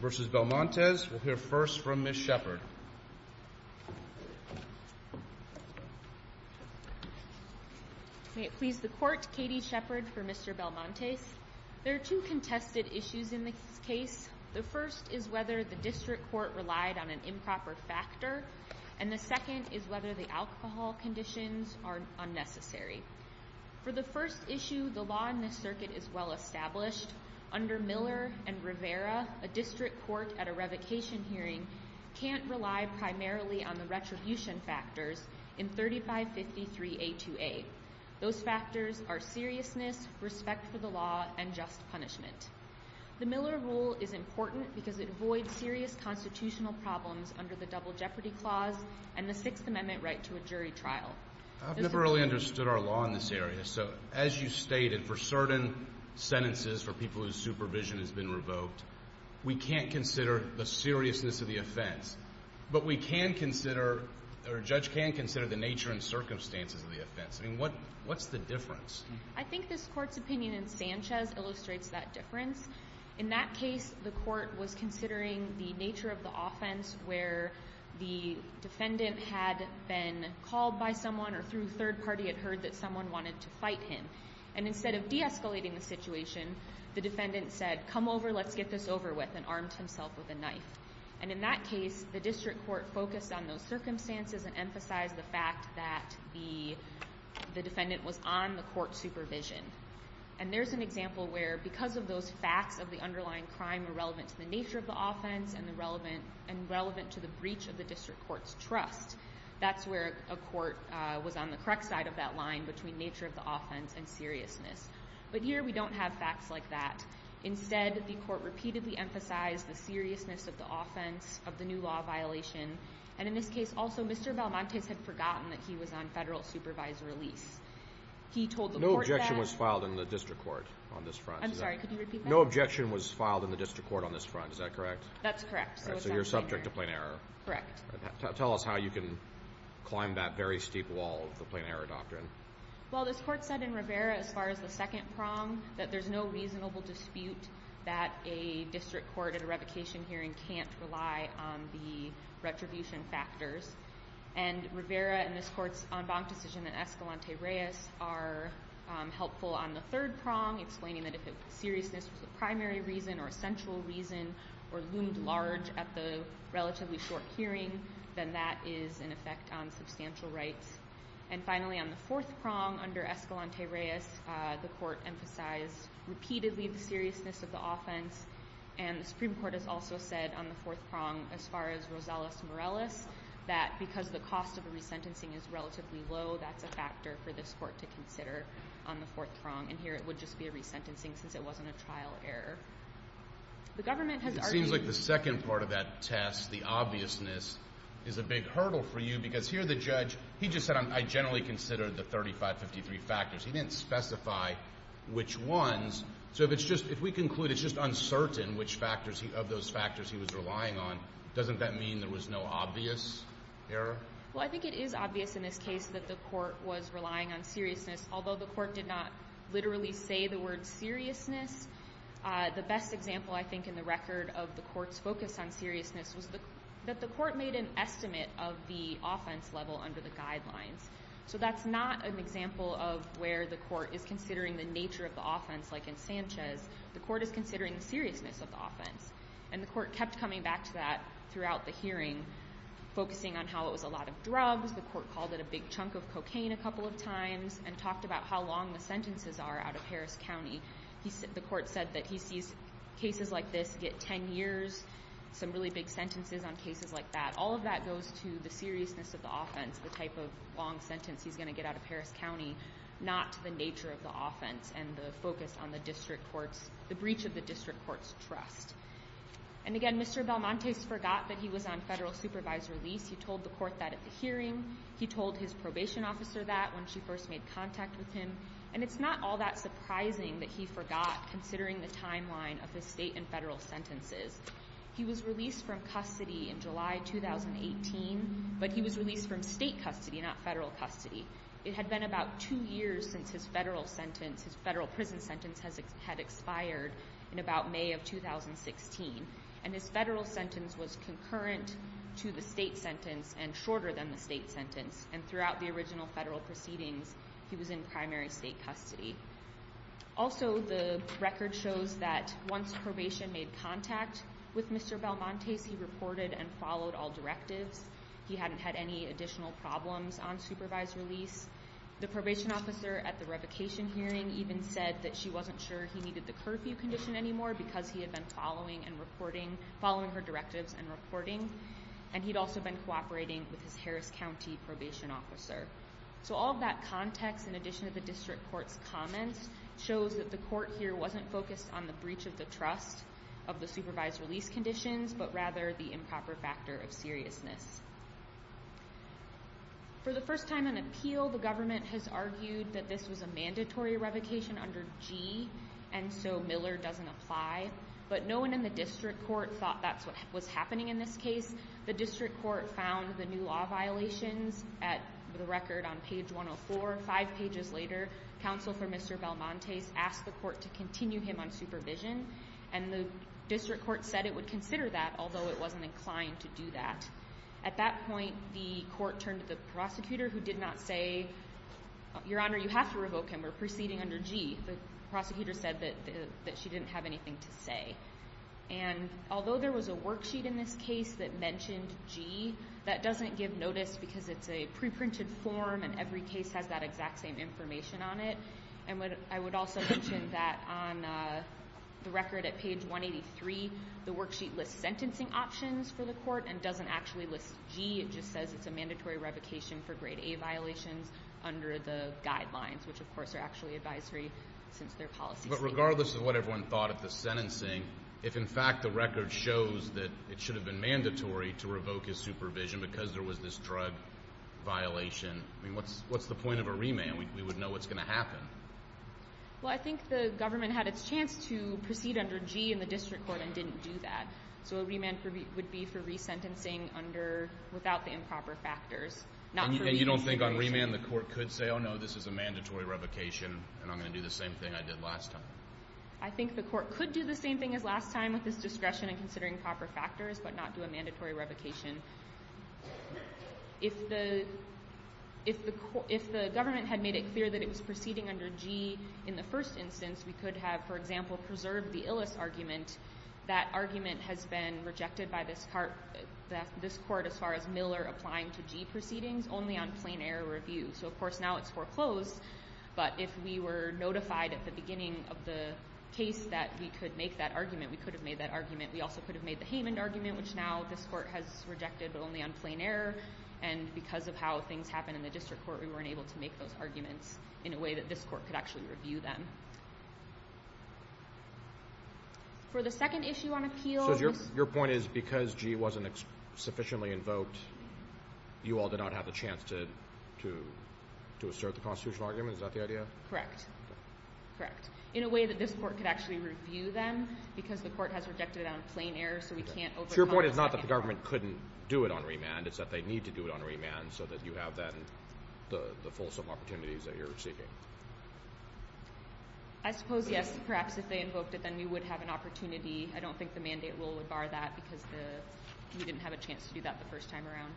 v. Belmontes, we'll hear first from Ms. Shepard. May it please the court, Katie Shepard for Mr. Belmontes. There are two contested issues in this case. The first is whether the district court relied on an improper factor, and the second is whether the alcohol conditions are unnecessary. For the first issue, the law in this circuit is well-established. Under Miller and Rivera, a district court at a revocation hearing can't rely primarily on the retribution factors in 3553A2A. Those factors are seriousness, respect for the law, and just punishment. The Miller rule is important because it avoids serious constitutional problems under the Double Jeopardy Clause and the Sixth Amendment right to a jury trial. I've never really understood our law in this area. So as you stated, for certain sentences for people whose supervision has been revoked, we can't consider the seriousness of the offense, but we can consider, or a judge can consider, the nature and circumstances of the offense. I mean, what's the difference? I think this court's opinion in Sanchez illustrates that difference. In that case, the court was considering the nature of the offense where the defendant had been called by someone or through third party had heard that someone wanted to fight him, and instead of de-escalating the situation, the defendant said, come over, let's get this over with, and armed himself with a knife. And in that case, the district court focused on those circumstances and emphasized the fact that the defendant was on the court supervision. And there's an example where, because of those facts of the underlying crime are relevant to the nature of the offense and relevant to the breach of the district court's trust, that's where a court was on the correct side of that line between nature of the offense and seriousness. But here, we don't have facts like that. Instead, the court repeatedly emphasized the seriousness of the offense, of the new law violation, and in this case, also, Mr. Balmontes had forgotten that he was on federal supervisory lease. He told the court that... No objection was filed in the district court on this front. I'm sorry, could you repeat that? No objection was filed in the district court on this front, is that correct? That's correct. So you're subject to plain error. Correct. Tell us how you can climb that very steep wall of the plain error doctrine. Well, this court said in Rivera, as far as the second prong, that there's no reasonable dispute that a district court at a revocation hearing can't rely on the retribution factors. And Rivera and this court's en banc decision in Escalante-Reyes are helpful on the third prong, explaining that if seriousness was the primary reason or essential reason or loomed large at the hearing, then that is in effect on substantial rights. And finally, on the fourth prong, under Escalante-Reyes, the court emphasized repeatedly the seriousness of the offense. And the Supreme Court has also said on the fourth prong, as far as Rosales-Morales, that because the cost of a resentencing is relatively low, that's a factor for this court to consider on the fourth prong. And here, it would just be a resentencing, since it wasn't a trial error. The government has argued... is a big hurdle for you, because here the judge, he just said, I generally consider the 3553 factors. He didn't specify which ones. So if it's just, if we conclude it's just uncertain which factors, of those factors he was relying on, doesn't that mean there was no obvious error? Well, I think it is obvious in this case that the court was relying on seriousness. Although the court did not literally say the word seriousness, the best example, I think, in the record of the court's focus on seriousness was that the court made an estimate of the offense level under the guidelines. So that's not an example of where the court is considering the nature of the offense, like in Sanchez. The court is considering the seriousness of the offense. And the court kept coming back to that throughout the hearing, focusing on how it was a lot of drugs. The court called it a big chunk of cocaine a couple of times, and talked about how long the sentences are out of Harris County. The court said that he sees cases like this get 10 years, some really big sentences on cases like that. All of that goes to the seriousness of the offense, the type of long sentence he's going to get out of Harris County, not the nature of the offense and the focus on the district court's, the breach of the district court's trust. And again, Mr. Belmonte forgot that he was on federal supervisory lease. He told the court that at the hearing. He told his probation officer that when she first made contact with him. And it's not all surprising that he forgot, considering the timeline of his state and federal sentences. He was released from custody in July 2018, but he was released from state custody, not federal custody. It had been about two years since his federal sentence, his federal prison sentence had expired in about May of 2016. And his federal sentence was concurrent to the state sentence and shorter than the state sentence. And throughout the original federal proceedings, he was in primary state custody. Also, the record shows that once probation made contact with Mr. Belmonte, he reported and followed all directives. He hadn't had any additional problems on supervised release. The probation officer at the revocation hearing even said that she wasn't sure he needed the curfew condition anymore because he had been following and reporting, following her directives and reporting. And he'd also been cooperating with his Harris County probation officer. So all of that context, in addition to the district court's comments, shows that the court here wasn't focused on the breach of the trust of the supervised release conditions, but rather the improper factor of seriousness. For the first time on appeal, the government has argued that this was a mandatory revocation under G, and so Miller doesn't apply. But no one in the district court thought that's what was happening in this case. The district court found the new law violations at the record on page 104. Five pages later, counsel for Mr. Belmonte asked the court to continue him on supervision, and the district court said it would consider that, although it wasn't inclined to do that. At that point, the court turned to the prosecutor, who did not say, Your Honor, you have to revoke him. We're proceeding under G. The prosecutor said that she didn't have anything to say. And although there was a worksheet in this case that mentioned G, that doesn't give notice because it's a preprinted form, and every case has that exact same information on it. And I would also mention that on the record at page 183, the worksheet lists sentencing options for the court and doesn't actually list G. It just says it's a mandatory revocation for grade A violations under the guidelines, which, of course, are actually advisory since their policy statement. But regardless of what everyone thought of the revision, because there was this drug violation, I mean, what's the point of a remand? We would know what's going to happen. Well, I think the government had its chance to proceed under G in the district court and didn't do that. So a remand would be for resentencing under, without the improper factors. And you don't think on remand the court could say, Oh, no, this is a mandatory revocation, and I'm going to do the same thing I did last time. I think the court could do the same thing as last time with this discretion and considering proper factors, but not do a remand. If the government had made it clear that it was proceeding under G in the first instance, we could have, for example, preserved the Illes argument. That argument has been rejected by this court as far as Miller applying to G proceedings only on plain error review. So, of course, now it's foreclosed. But if we were notified at the beginning of the case that we could make that argument, we could have made that argument. We also could have made the argument only on plain error. And because of how things happen in the district court, we weren't able to make those arguments in a way that this court could actually review them. For the second issue on appeal... So your point is because G wasn't sufficiently invoked, you all did not have the chance to assert the constitutional argument? Is that the idea? Correct. Correct. In a way that this court could actually review them because the court has rejected it on plain error, so we can't overcome... So your point is not that government couldn't do it on remand. It's that they need to do it on remand so that you have then the fulsome opportunities that you're seeking. I suppose, yes. Perhaps if they invoked it, then we would have an opportunity. I don't think the mandate rule would bar that because we didn't have a chance to do that the first time around.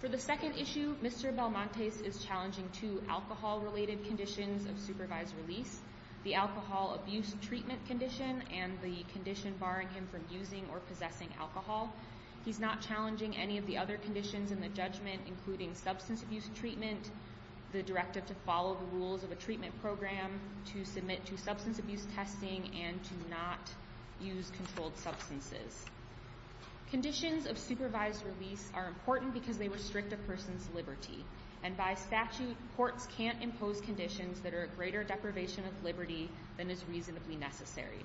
For the second issue, Mr. Belmontes is challenging two alcohol-related conditions of supervised release. The alcohol abuse treatment condition and the condition barring him from using or possessing alcohol. He's not challenging any of the other conditions in the judgment, including substance abuse treatment, the directive to follow the rules of a treatment program, to submit to substance abuse testing, and to not use controlled substances. Conditions of supervised release are important because they restrict a person's liberty. And by statute, courts can't impose conditions that are a greater deprivation of liberty than is reasonably necessary.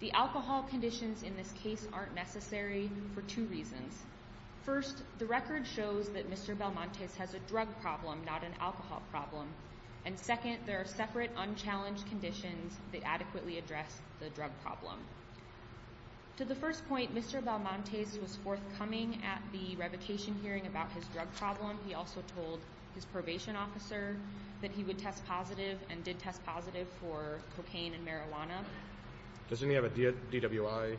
The alcohol conditions in this case aren't necessary for two reasons. First, the record shows that Mr. Belmontes has a drug problem, not an alcohol problem. And second, there are separate unchallenged conditions that adequately address the drug problem. To the first point, Mr. Belmontes was forthcoming at the revocation hearing about his drug problem. He also told his probation officer that he would test positive and did test positive for cocaine and marijuana. Does he have a DWI?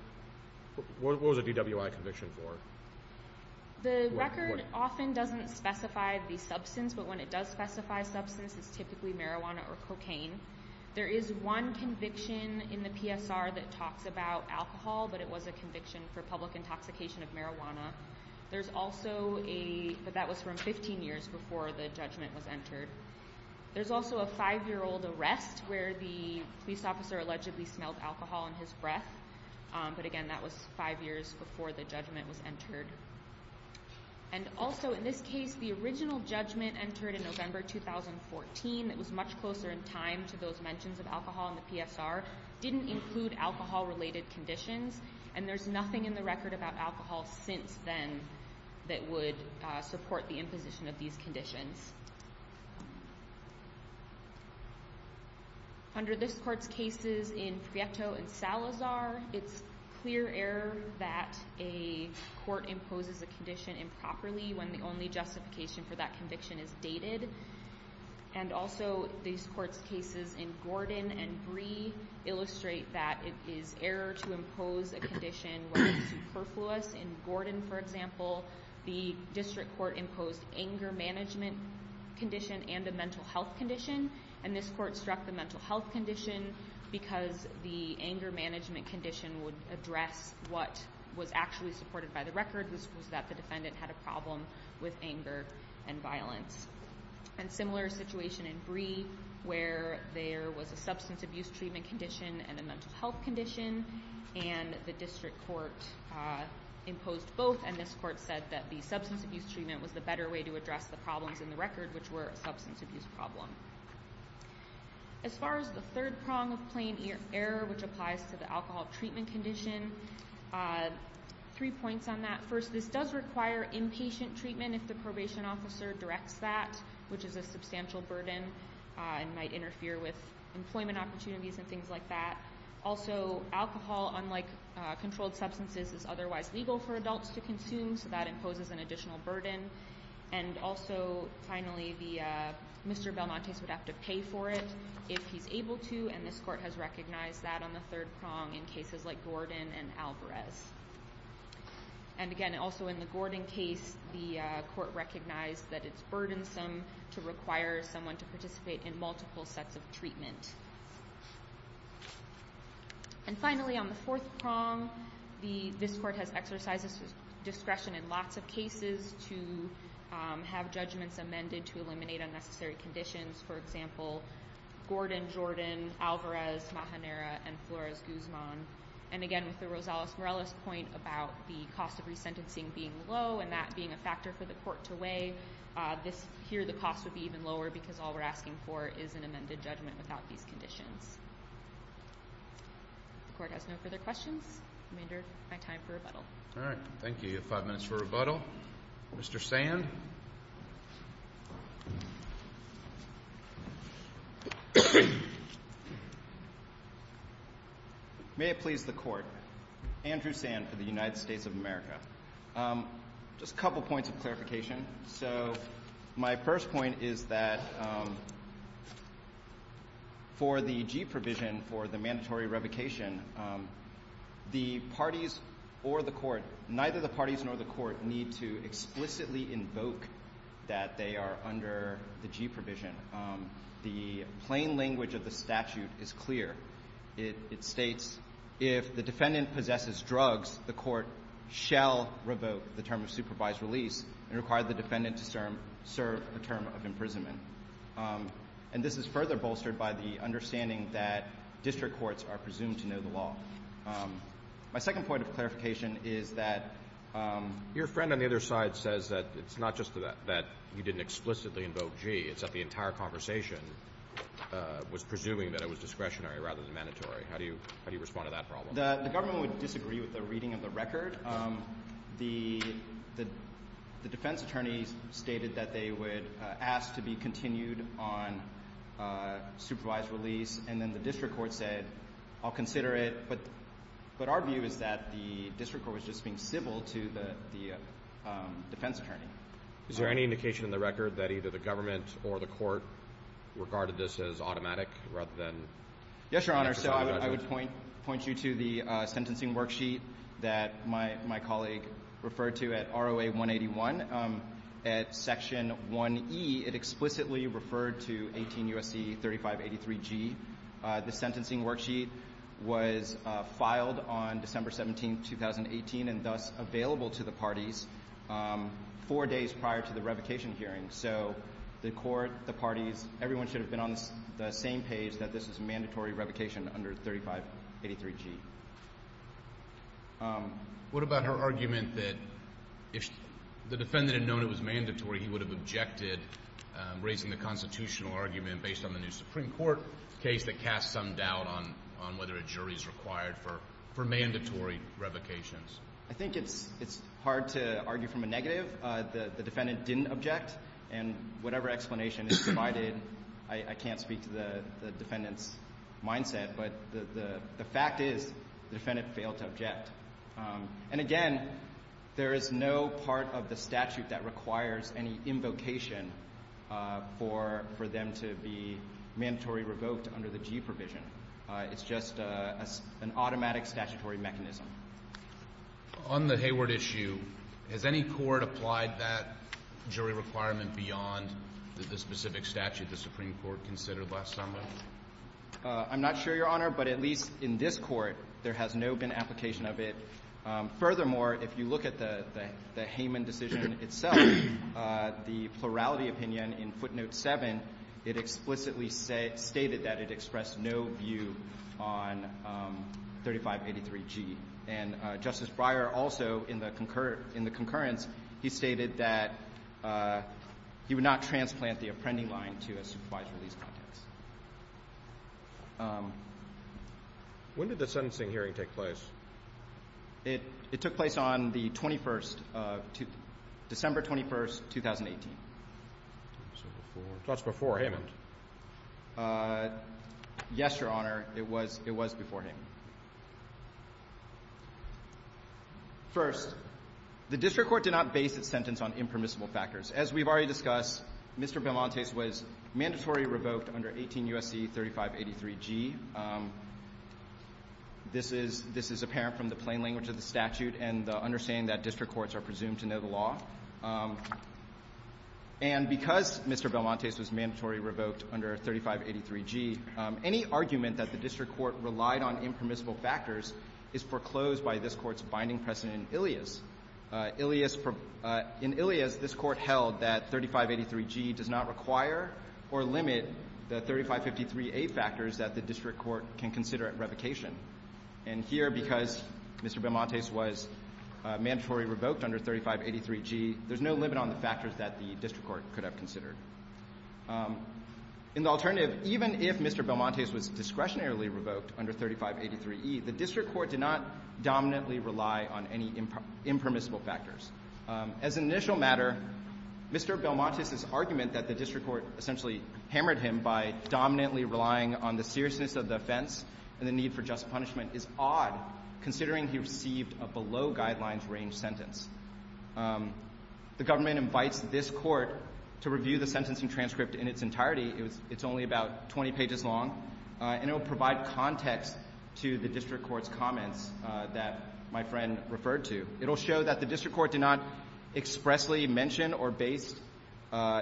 What was a DWI conviction for? The record often doesn't specify the substance, but when it does specify substance, it's typically marijuana or cocaine. There is one conviction in the PSR that talks about alcohol, but it was a 15-year conviction before the judgment was entered. There's also a five-year-old arrest where the police officer allegedly smelled alcohol in his breath, but again, that was five years before the judgment was entered. And also, in this case, the original judgment entered in November 2014 that was much closer in time to those mentions of alcohol in the PSR didn't include alcohol-related conditions, and there's nothing in the record about alcohol since then that would support the imposition of these conditions. Under this court's cases in Prieto and Salazar, it's clear error that a court imposes a condition improperly when the only justification for that conviction is dated. And also, these court's cases in Gordon and Bree illustrate that it is error to impose a condition where it's superfluous. In Gordon, for example, the district court imposed anger management condition and a mental health condition, and this court struck the mental health condition because the anger management condition would address what was actually supported by the record, which was that the defendant had a problem with anger and violence. And similar situation in Bree, where there was a substance abuse treatment condition and a mental health condition, and the district court imposed both, and this court said that the substance abuse treatment was the better way to address the problems in the record, which were a substance abuse problem. As far as the third prong of plain error, which applies to the alcohol treatment condition, three points on that. First, this does require inpatient treatment if the probation officer directs that, which is a substantial burden and might interfere with employment opportunities and things like that. Also, alcohol, unlike controlled substances, is otherwise legal for adults to consume, so that imposes an additional burden. And also, finally, Mr. Belmontes would have to pay for it if he's able to, and this court has recognized that on the third prong in cases like Gordon and Alvarez. And again, also in the Gordon case, the court recognized that it's burdensome to require someone to participate in multiple sets of treatment. And finally, on the fourth prong, this court has exercised its discretion in lots of cases to have judgments amended to eliminate unnecessary conditions. For example, Gordon, Jordan, Alvarez, Mahanera, and Flores-Guzman. And again, with the Rosales-Morales point about the cost of resentencing being low and that being a factor for the court to weigh, here the cost would be even lower because all we're asking for is an amended judgment without these conditions. If the court has no further questions, I'm going to end my time for rebuttal. All right. Thank you. You have five minutes for rebuttal. Mr. Sand? May it please the Court. Andrew Sand for the United States of America. Just a couple points of clarification. So my first point is that for the G provision for the mandatory revocation, the parties or the court, neither the parties nor the court need to explicitly invoke that they are under the G provision. The plain language of the statute is clear. It states, if the defendant possesses shall revoke the term of supervised release and require the defendant to serve a term of imprisonment. And this is further bolstered by the understanding that district courts are presumed to know the law. My second point of clarification is that your friend on the other side says that it's not just that you didn't explicitly invoke G, it's that the entire conversation was presuming that it was discretionary rather than mandatory. How do you respond to that record? The defense attorney stated that they would ask to be continued on supervised release, and then the district court said, I'll consider it. But our view is that the district court was just being civil to the defense attorney. Is there any indication in the record that either the government or the court regarded this as automatic rather than... Yes, Your Honor. So I my colleague referred to at ROA 181, at Section 1E, it explicitly referred to 18 U.S.C. 3583G. The sentencing worksheet was filed on December 17, 2018, and thus available to the parties four days prior to the revocation hearing. So the court, the parties, everyone should have been on the same page that this is a mandatory revocation under 3583G. What about her argument that if the defendant had known it was mandatory, he would have objected raising the constitutional argument based on the new Supreme Court case that casts some doubt on whether a jury is required for mandatory revocations? I think it's hard to argue from a negative. The defendant didn't object, and whatever explanation is provided, I can't speak to the defendant's mindset, but the fact is the defendant failed to object. And again, there is no part of the statute that requires any invocation for them to be mandatory revoked under the G provision. It's just an automatic statutory mechanism. On the Hayward issue, has any court applied that jury requirement beyond the specific statute the Supreme Court considered last summer? I'm not sure, Your Honor, but at least in this court, there has no been application of it. Furthermore, if you look at the Hayman decision itself, the plurality opinion in footnote 7, it explicitly stated that it expressed no view on 3583G. And Justice Breyer also, in the concurrence, he stated that he would not transplant the appending line to a supervised release context. When did the sentencing hearing take place? It took place on the 21st of – December 21st, 2018. So before – so that's before Hayman. Yes, Your Honor. It was – it was before Hayman. First, the district court did not base its sentence on impermissible factors. As we've already discussed, Mr. Belmonte's was mandatory revoked under 18 U.S.C. 3583G. This is – this is apparent from the plain language of the statute and the understanding that district courts are presumed to know the law. And because Mr. Belmonte's was mandatory revoked under 3583G, any argument that the district court relied on impermissible factors is foreclosed by this Court's binding precedent in Ilias. Ilias – in Ilias, this Court held that 3583G does not require or limit the 3553A factors that the district court can consider at revocation. And here, because Mr. Belmonte's was mandatory revoked under 3583G, there's no limit on the factors that the district court could have considered. In the alternative, even if Mr. Belmonte's was discretionarily revoked under 3583E, the district court did not dominantly rely on any impermissible factors. As an initial matter, Mr. Belmonte's' argument that the district court essentially hammered by dominantly relying on the seriousness of the offense and the need for just punishment is odd, considering he received a below-guidelines-range sentence. The government invites this Court to review the sentencing transcript in its entirety. It was – it's only about 20 pages long, and it will provide context to the district court's comments that my friend referred to. It will show that the district court did expressly mention or base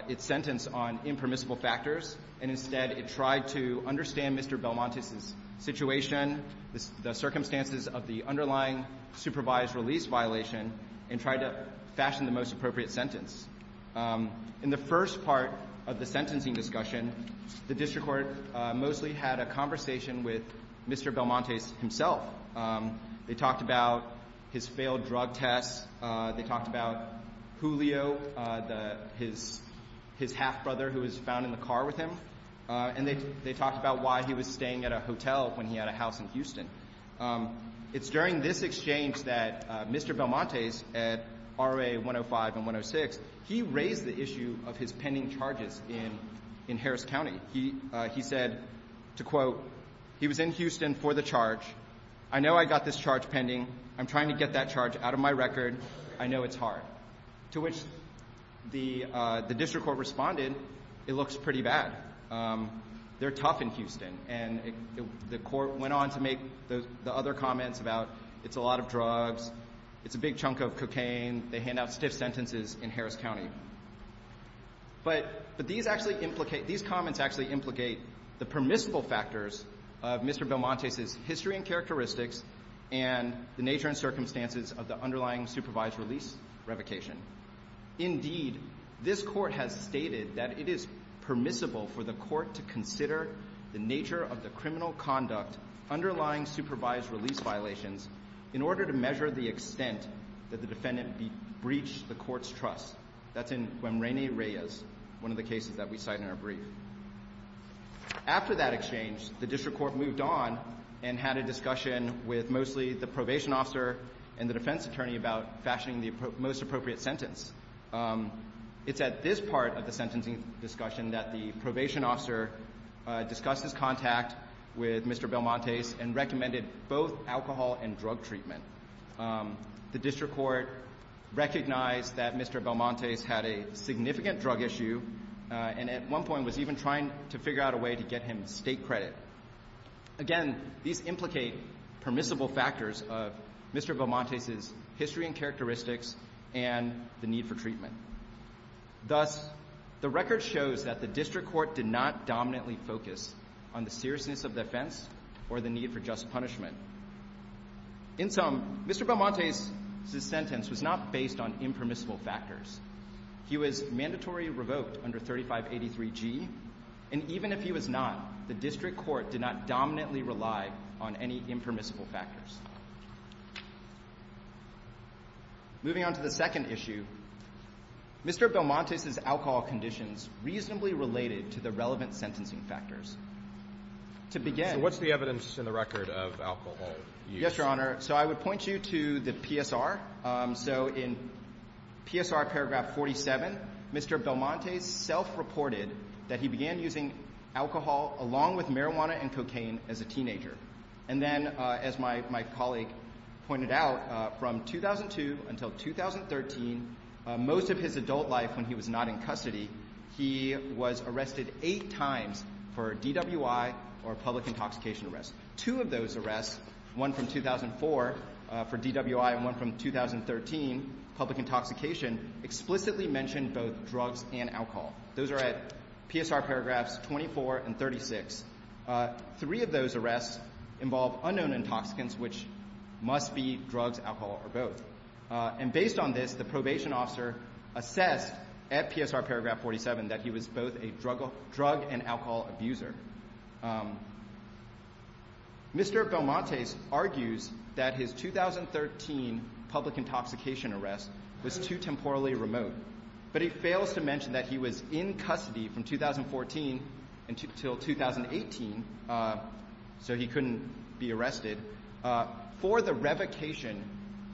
its sentence on impermissible factors, and instead, it tried to understand Mr. Belmonte's' situation, the circumstances of the underlying supervised release violation, and tried to fashion the most appropriate sentence. In the first part of the sentencing discussion, the district court mostly had a conversation with Mr. Belmonte's himself. They talked about his failed drug tests. They talked about Julio, his half-brother who was found in the car with him. And they talked about why he was staying at a hotel when he had a house in Houston. It's during this exchange that Mr. Belmonte's at RA 105 and 106, he raised the issue of his pending charges in Harris County. He said, to quote, he was in Houston for the charge. I know I got this charge pending. I'm trying to get that charge out of my record. I know it's hard. To which the district court responded, it looks pretty bad. They're tough in Houston. And the court went on to make the other comments about it's a lot of drugs, it's a big These actually implicate the permissible factors of Mr. Belmonte's history and characteristics and the nature and circumstances of the underlying supervised release revocation. Indeed, this Court has stated that it is permissible for the Court to consider the nature of the criminal conduct underlying supervised release violations in order to measure the extent that the defendant breached the Court's trust. That's in Guemreni-Reyes, one of the cases that we cite in our brief. After that exchange, the district court moved on and had a discussion with mostly the probation officer and the defense attorney about fashioning the most appropriate sentence. It's at this part of the sentencing discussion that the probation officer discussed his contact with Mr. Belmonte's and recommended both alcohol and drug treatment. The district court recognized that Mr. Belmonte's had a significant drug issue and at one point was even trying to figure out a way to get him state credit. Again, these implicate permissible factors of Mr. Belmonte's history and characteristics and the need for treatment. Thus, the record shows that the district court did not dominantly focus on the seriousness of the offense or the need for just punishment. In sum, Mr. Belmonte's sentence was not based on impermissible factors. He was mandatory revoked under 3583G, and even if he was not, the district court did not dominantly rely on any impermissible factors. Moving on to the second issue, Mr. Belmonte's alcohol conditions reasonably related to the relevant sentencing factors. To begin – Yes, Your Honor. So I would point you to the PSR. So in PSR paragraph 47, Mr. Belmonte self-reported that he began using alcohol along with marijuana and cocaine as a teenager. And then, as my colleague pointed out, from 2002 until 2013, most of his adult life when he was not in custody, he was arrested eight times for DWI or public intoxication arrest. Two of those arrests, one from 2004 for DWI and one from 2013, public intoxication, explicitly mentioned both drugs and alcohol. Those are at PSR paragraphs 24 and 36. Three of those arrests involve unknown intoxicants, which must be drugs, alcohol, or both. And based on this, the probation officer assessed at PSR paragraph 47 that he was both a drug and alcohol abuser. Mr. Belmonte argues that his 2013 public intoxication arrest was too temporally remote, but he fails to mention that he was in custody from 2014 until 2018, so he couldn't be arrested, for the revocation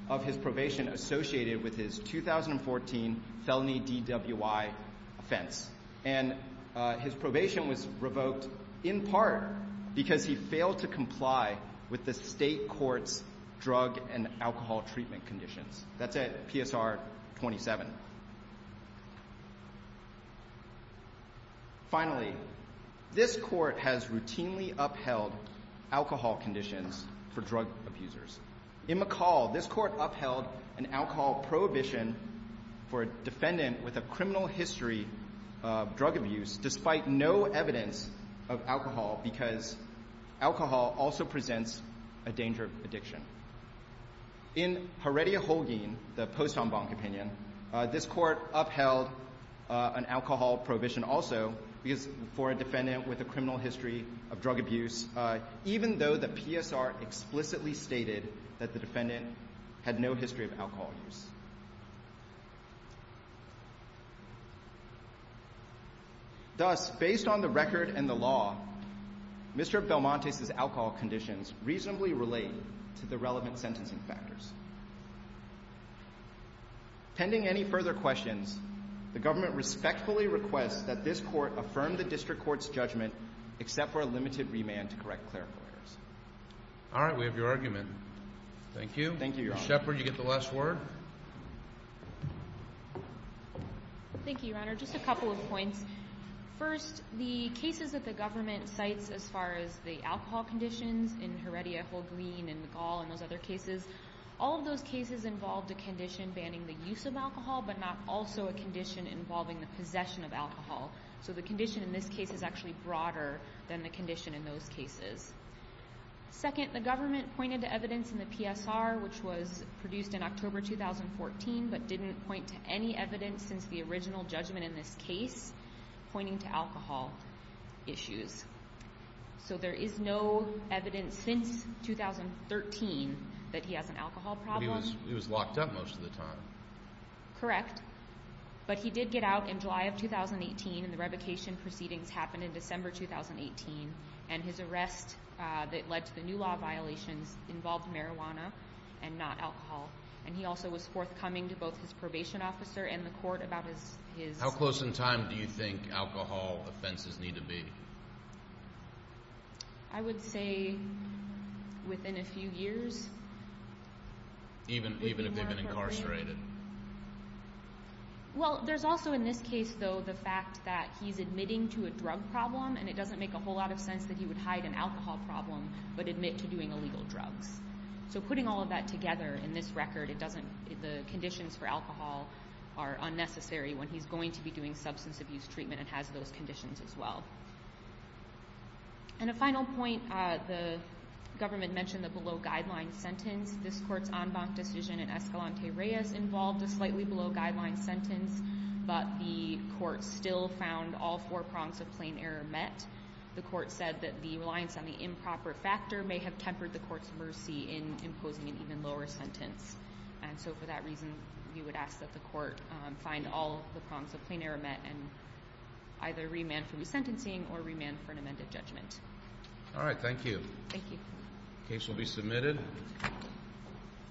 of his probation associated with his 2014 felony DWI offense. And his probation was revoked in part because he failed to comply with the state court's drug and alcohol treatment conditions. That's at PSR 27. Finally, this court has routinely upheld alcohol conditions for drug abusers. In McCall, this court upheld an alcohol prohibition for a defendant with a criminal history of drug abuse, despite no evidence of alcohol, because alcohol also presents a danger of addiction. In Heredia-Holguin, the post en banc opinion, this court upheld an alcohol prohibition also, because for a defendant with a criminal history of drug abuse, even though the PSR explicitly stated that the defendant had no history of alcohol use. Thus, based on the record and the law, Mr. Belmonte's alcohol conditions reasonably relate to the relevant sentencing factors. Pending any further questions, the government respectfully requests that this court affirm the district court's judgment, except for a limited remand to correct clerical errors. All right, we have your argument. Thank you. Thank you, Your Honor. Mr. Shepard, you get the last word. Thank you, Your Honor. Just a couple of points. First, the cases that the government cites as far as the alcohol conditions in Heredia-Holguin and McCall and those other cases, all of those cases involved a condition banning the use of alcohol, but not also a condition involving the possession of alcohol. So the condition in this case is actually broader than the condition in those cases. Second, the government pointed to evidence in the PSR, which was produced in October 2014, but didn't point to any evidence since the original judgment in this case pointing to alcohol issues. So there is no evidence since 2013 that he has an alcohol problem. But he was locked up most of the time. Correct. But he did get out in July of 2018, and the revocation proceedings happened in December 2018, and his arrest that led to the new law violations involved marijuana. And not alcohol. And he also was forthcoming to both his probation officer and the court about his... How close in time do you think alcohol offenses need to be? I would say within a few years. Even if they've been incarcerated. Well, there's also in this case, though, the fact that he's admitting to a drug problem, and it doesn't make a whole lot of sense that he would hide an alcohol problem, but admit to doing illegal drugs. So putting all of that together in this record, it doesn't... The conditions for alcohol are unnecessary when he's going to be doing substance abuse treatment and has those conditions as well. And a final point, the government mentioned the below-guideline sentence. This court's en banc decision in Escalante Reyes involved a slightly below-guideline sentence, but the court still found all four prongs of plain error met. The court said that the reliance on the improper factor may have tempered the court's mercy in imposing an even lower sentence. And so for that reason, we would ask that the court find all the prongs of plain error met and either remand for resentencing or remand for an amended judgment. All right, thank you. Thank you. Case will be submitted.